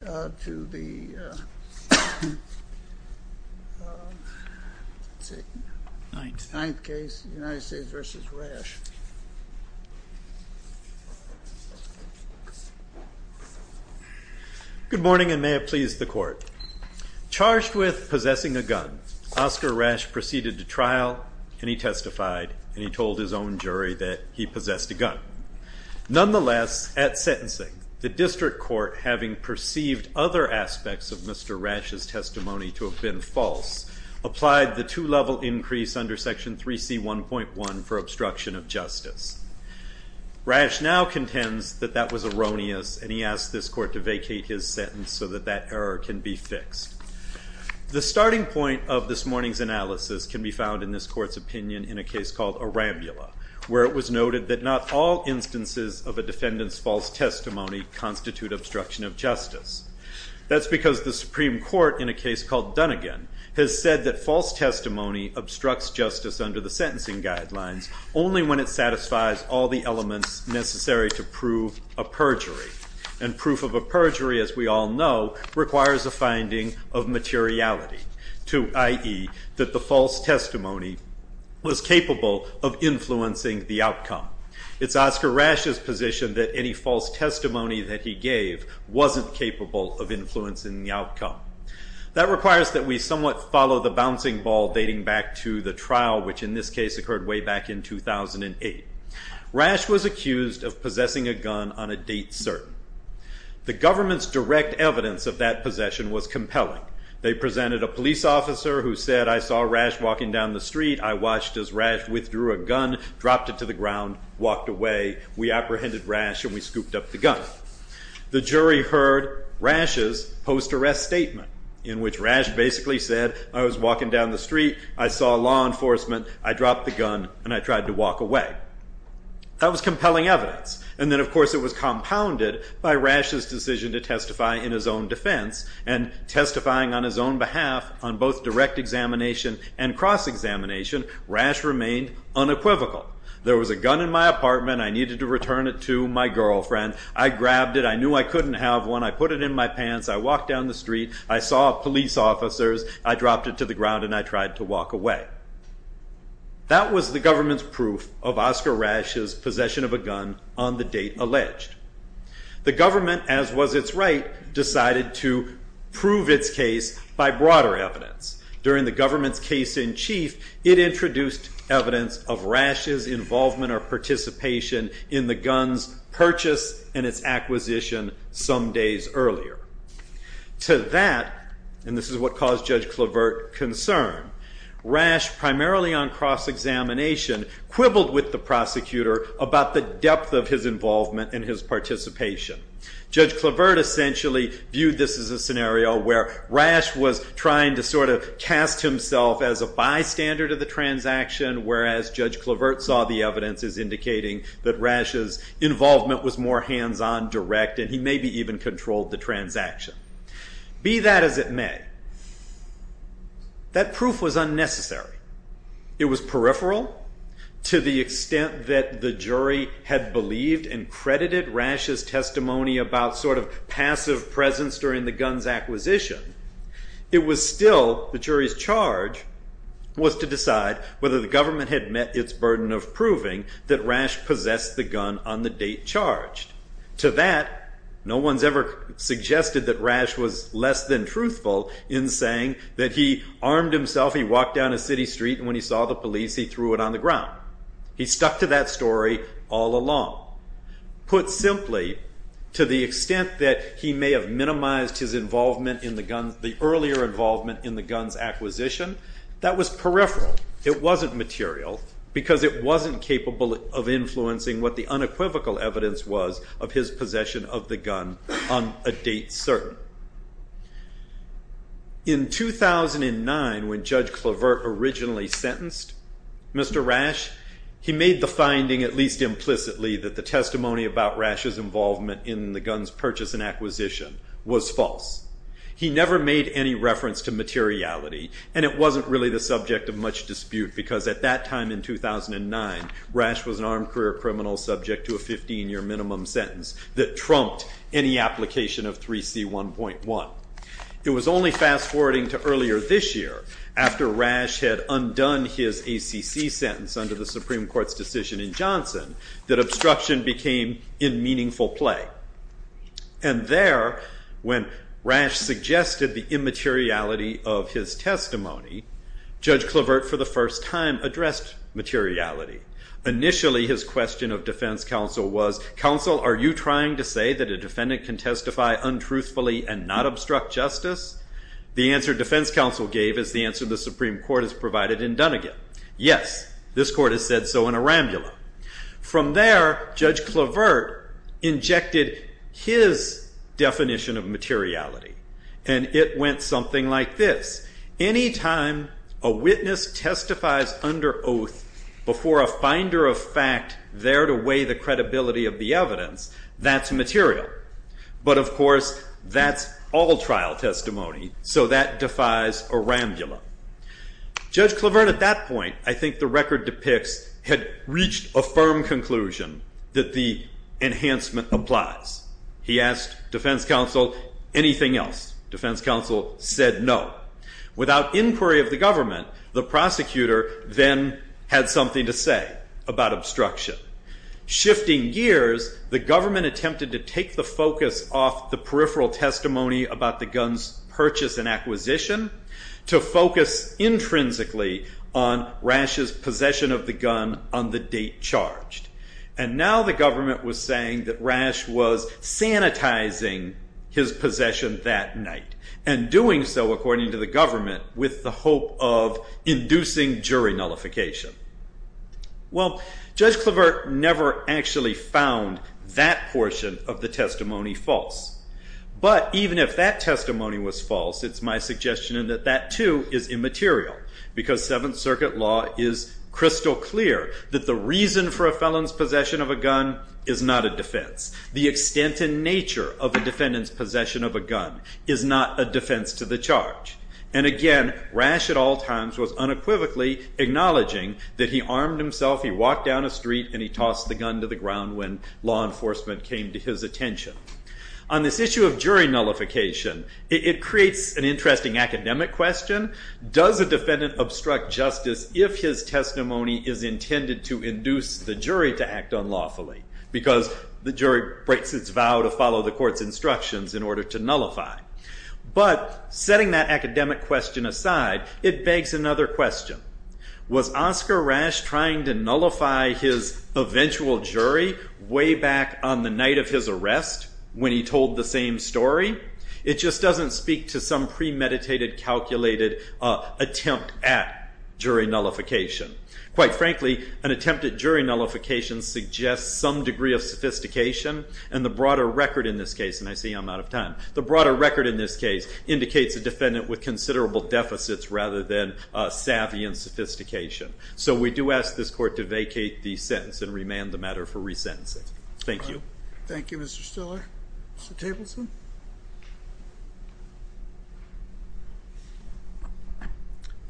Good morning and may it please the court. Charged with possessing a gun, Oscar Rash proceeded to trial and he testified and he told his own jury that he possessed a gun and he believed other aspects of Mr. Rash's testimony to have been false, applied the two-level increase under Section 3C1.1 for obstruction of justice. Rash now contends that that was erroneous and he asked this court to vacate his sentence so that that error can be fixed. The starting point of this morning's analysis can be found in this court's opinion in a case called Arambula, where it was noted that not all instances of a defendant's false testimony constitute obstruction of justice. That's because the Supreme Court, in a case called Dunnigan, has said that false testimony obstructs justice under the sentencing guidelines only when it satisfies all the elements necessary to prove a perjury. And proof of a perjury, as we all know, requires a finding of materiality. i.e. that the false testimony was capable of influencing the outcome. It's Oscar Rash's position that any false testimony that he gave wasn't capable of influencing the outcome. That requires that we somewhat follow the bouncing ball dating back to the trial, which in this case occurred way back in 2008. Rash was accused of possessing a gun on a date certain. The government's direct evidence of that possession was compelling. They presented a police officer who said, I saw Rash walking down the street. I watched as Rash withdrew a gun, dropped it to the ground, walked away. We apprehended Rash and we scooped up the gun. The jury heard Rash's post-arrest statement in which Rash basically said, I was walking down the street, I saw law enforcement, I dropped the gun, and I tried to walk away. That was compelling evidence, and then of course it was compounded by Rash's decision to testify in his own defense, and testifying on his own behalf on both direct examination and cross-examination, Rash remained unequivocal. There was a gun in my apartment, I needed to return it to my girlfriend, I grabbed it, I knew I couldn't have one, I put it in my pants, I walked down the street, I saw police officers, I dropped it to the ground, and I tried to walk away. That was the government's proof of Oscar Rash's possession of a gun on the date alleged. The government, as was its right, decided to prove its case by broader evidence. During the government's case in chief, it introduced evidence of Rash's involvement or participation in the gun's purchase and its acquisition some days earlier. To that, and this is what caused Judge Clavert concern, Rash, primarily on cross-examination, quibbled with the prosecutor about the depth of his involvement and his participation. Judge Clavert essentially viewed this as a scenario where Rash was trying to sort of cast himself as a bystander to the transaction, whereas Judge Clavert saw the evidence as indicating that Rash's involvement was more hands-on, direct, and he maybe even controlled the transaction. Be that as it may, that proof was unnecessary. It was peripheral to the extent that the jury had believed and credited Rash's testimony about sort of passive presence during the gun's acquisition. It was still the jury's charge was to decide whether the government had met its burden of proving that Rash possessed the gun on the date charged. To that, no one's ever suggested that Rash was less than truthful in saying that he armed himself, he walked down a city street, and when he saw the police, he threw it on the ground. He stuck to that story all along. Put simply, to the extent that he may have minimized the earlier involvement in the gun's acquisition, that was peripheral. It wasn't material because it wasn't capable of influencing what the unequivocal evidence was of his possession of the gun on a date certain. In 2009, when Judge Clavert originally sentenced Mr. Rash, he made the finding, at least implicitly, that the testimony about Rash's involvement in the gun's purchase and acquisition was false. He never made any reference to materiality, and it wasn't really the subject of much dispute because at that time in 2009, Rash was an armed career criminal subject to a 15-year minimum sentence that trumped any application of 3C1.1. It was only fast-forwarding to earlier this year, after Rash had undone his ACC sentence under the Supreme Court's decision in Johnson, that obstruction became in meaningful play. There, when Rash suggested the immateriality of his testimony, Judge Clavert, for the first time, addressed materiality. Initially, his question of defense counsel was, counsel, are you trying to say that a defendant can testify untruthfully and not obstruct justice? The answer defense counsel gave is the answer the Supreme Court has provided in Dunnegan. Yes, this court has said so in Arambula. From there, Judge Clavert injected his definition of materiality, and it went something like this. Any time a witness testifies under oath before a finder of fact there to weigh the credibility of the evidence, that's material. But of course, that's all trial testimony, so that defies Arambula. Judge Clavert, at that point, I think the record depicts, had reached a firm conclusion that the enhancement applies. He asked defense counsel anything else. Defense counsel said no. Without inquiry of the government, the prosecutor then had something to say about obstruction. Shifting gears, the government attempted to take the focus off the peripheral testimony about the gun's purchase and acquisition to focus intrinsically on Rash's possession of the gun on the date charged. And now the government was saying that Rash was sanitizing his possession that night, and doing so, according to the government, with the hope of inducing jury nullification. Well, Judge Clavert never actually found that portion of the testimony false. But even if that testimony was false, it's my suggestion that that too is immaterial, because Seventh Circuit law is crystal clear that the reason for a felon's possession of a gun is not a defense. The extent and nature of a defendant's possession of a gun is not a defense to the charge. And again, Rash at all times was unequivocally acknowledging that he armed himself, he walked down a street, and he tossed the gun to the ground when law enforcement came to his attention. On this issue of jury nullification, it creates an interesting academic question. Does a defendant obstruct justice if his testimony is intended to induce the jury to act unlawfully? Because the jury breaks its vow to follow the court's instructions in order to nullify. But setting that academic question aside, it begs another question. Was Oscar Rash trying to nullify his eventual jury way back on the night of his arrest when he told the same story? It just doesn't speak to some premeditated, calculated attempt at jury nullification. Quite frankly, an attempt at jury nullification suggests some degree of sophistication, and the broader record in this case, and I see I'm out of time, the broader record in this case indicates a defendant with considerable deficits rather than savvy and sophistication. So we do ask this court to vacate the sentence and remand the matter for resentencing. Thank you. Thank you, Mr. Stiller. Mr. Tableson?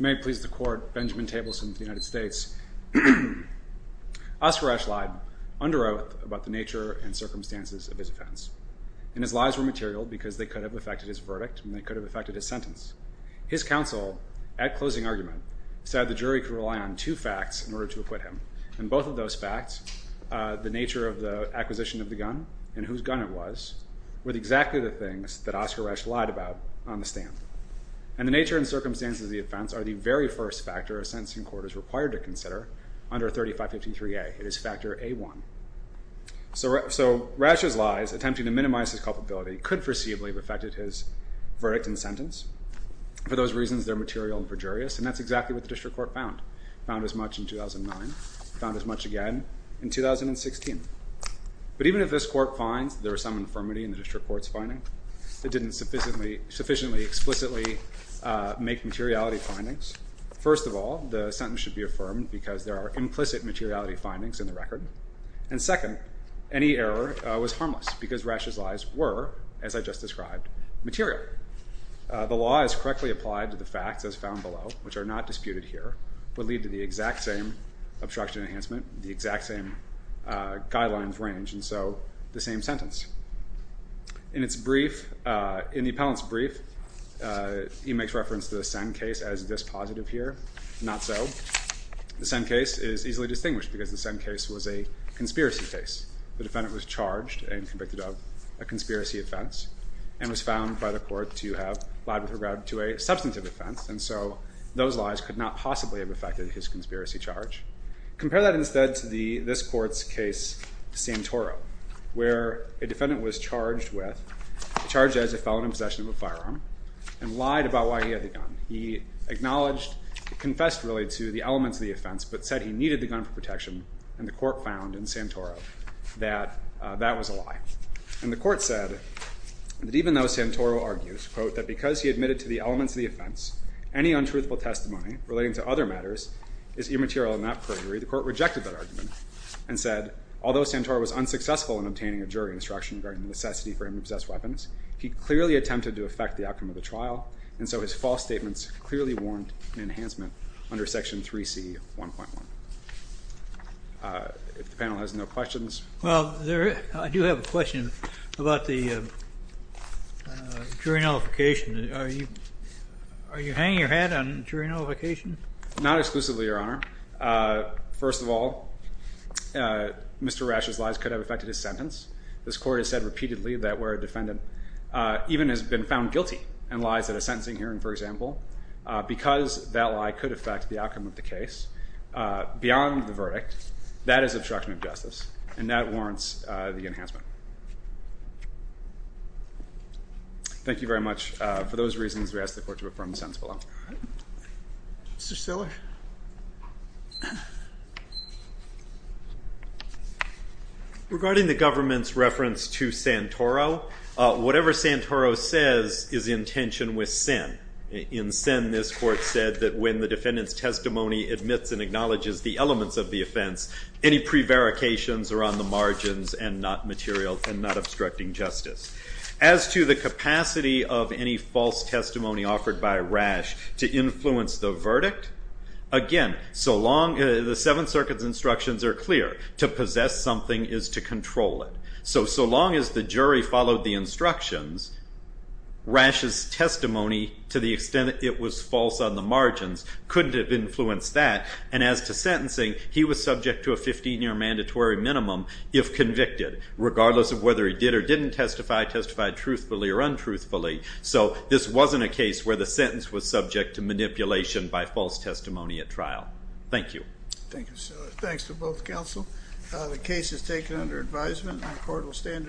If you may please the court, Benjamin Tableson of the United States. Oscar Rash lied under oath about the nature and circumstances of his offense. And his lies were material because they could have affected his verdict and they could have affected his sentence. His counsel, at closing argument, said the jury could rely on two facts in order to acquit him. And both of those facts, the nature of the acquisition of the gun and whose gun it was, were exactly the things that Oscar Rash lied about on the stand. And the nature and circumstances of the offense are the very first factor a sentencing court is required to consider under 3553A. It is factor A1. So Rash's lies, attempting to minimize his culpability, could foreseeably have affected his verdict and sentence. For those reasons, they're material and perjurious, and that's exactly what the district court found. It found as much in 2009. It found as much again in 2016. But even if this court finds there was some infirmity in the district court's finding, it didn't sufficiently explicitly make materiality findings, First of all, the sentence should be affirmed because there are implicit materiality findings in the record. And second, any error was harmless because Rash's lies were, as I just described, material. The law as correctly applied to the facts as found below, which are not disputed here, would lead to the exact same obstruction enhancement, the exact same guidelines range, and so the same sentence. In its brief, in the appellant's brief, he makes reference to the Senn case as this positive here. Not so. The Senn case is easily distinguished because the Senn case was a conspiracy case. The defendant was charged and convicted of a conspiracy offense and was found by the court to have lied with regard to a substantive offense. And so those lies could not possibly have affected his conspiracy charge. Compare that instead to this court's case, Santoro, where a defendant was charged with, charged as a felon in possession of a firearm and lied about why he had the gun. He acknowledged, confessed really to the elements of the offense, but said he needed the gun for protection, and the court found in Santoro that that was a lie. And the court said that even though Santoro argues, quote, that because he admitted to the elements of the offense, any untruthful testimony relating to other matters is immaterial in that perjury, the court rejected that argument and said, although Santoro was unsuccessful in obtaining a jury instruction regarding the necessity for him to possess weapons, he clearly attempted to affect the outcome of the trial, and so his false statements clearly warrant an enhancement under Section 3C of 1.1. If the panel has no questions. Well, I do have a question about the jury nullification. Are you hanging your hat on jury nullification? Not exclusively, Your Honor. First of all, Mr. Rasch's lies could have affected his sentence. This court has said repeatedly that where a defendant even has been found guilty in lies at a sentencing hearing, for example, because that lie could affect the outcome of the case beyond the verdict, that is obstruction of justice, and that warrants the enhancement. Thank you very much. For those reasons, we ask the court to affirm the sentence below. Mr. Stiller? Regarding the government's reference to Santoro, whatever Santoro says is in tension with Sin. In Sin, this court said that when the defendant's testimony admits and acknowledges the elements of the offense, any prevarications are on the margins and not material and not obstructing justice. As to the capacity of any false testimony offered by Rasch to influence the verdict, again, the Seventh Circuit's instructions are clear. To possess something is to control it. So so long as the jury followed the instructions, Rasch's testimony, to the extent that it was false on the margins, couldn't have influenced that. And as to sentencing, he was subject to a 15-year mandatory minimum if convicted, regardless of whether he did or didn't testify, testified truthfully or untruthfully. So this wasn't a case where the sentence was subject to manipulation by false testimony at trial. Thank you. Thank you, Stiller. Thanks to both counsel. The case is taken under advisement, and the court will stand in recess.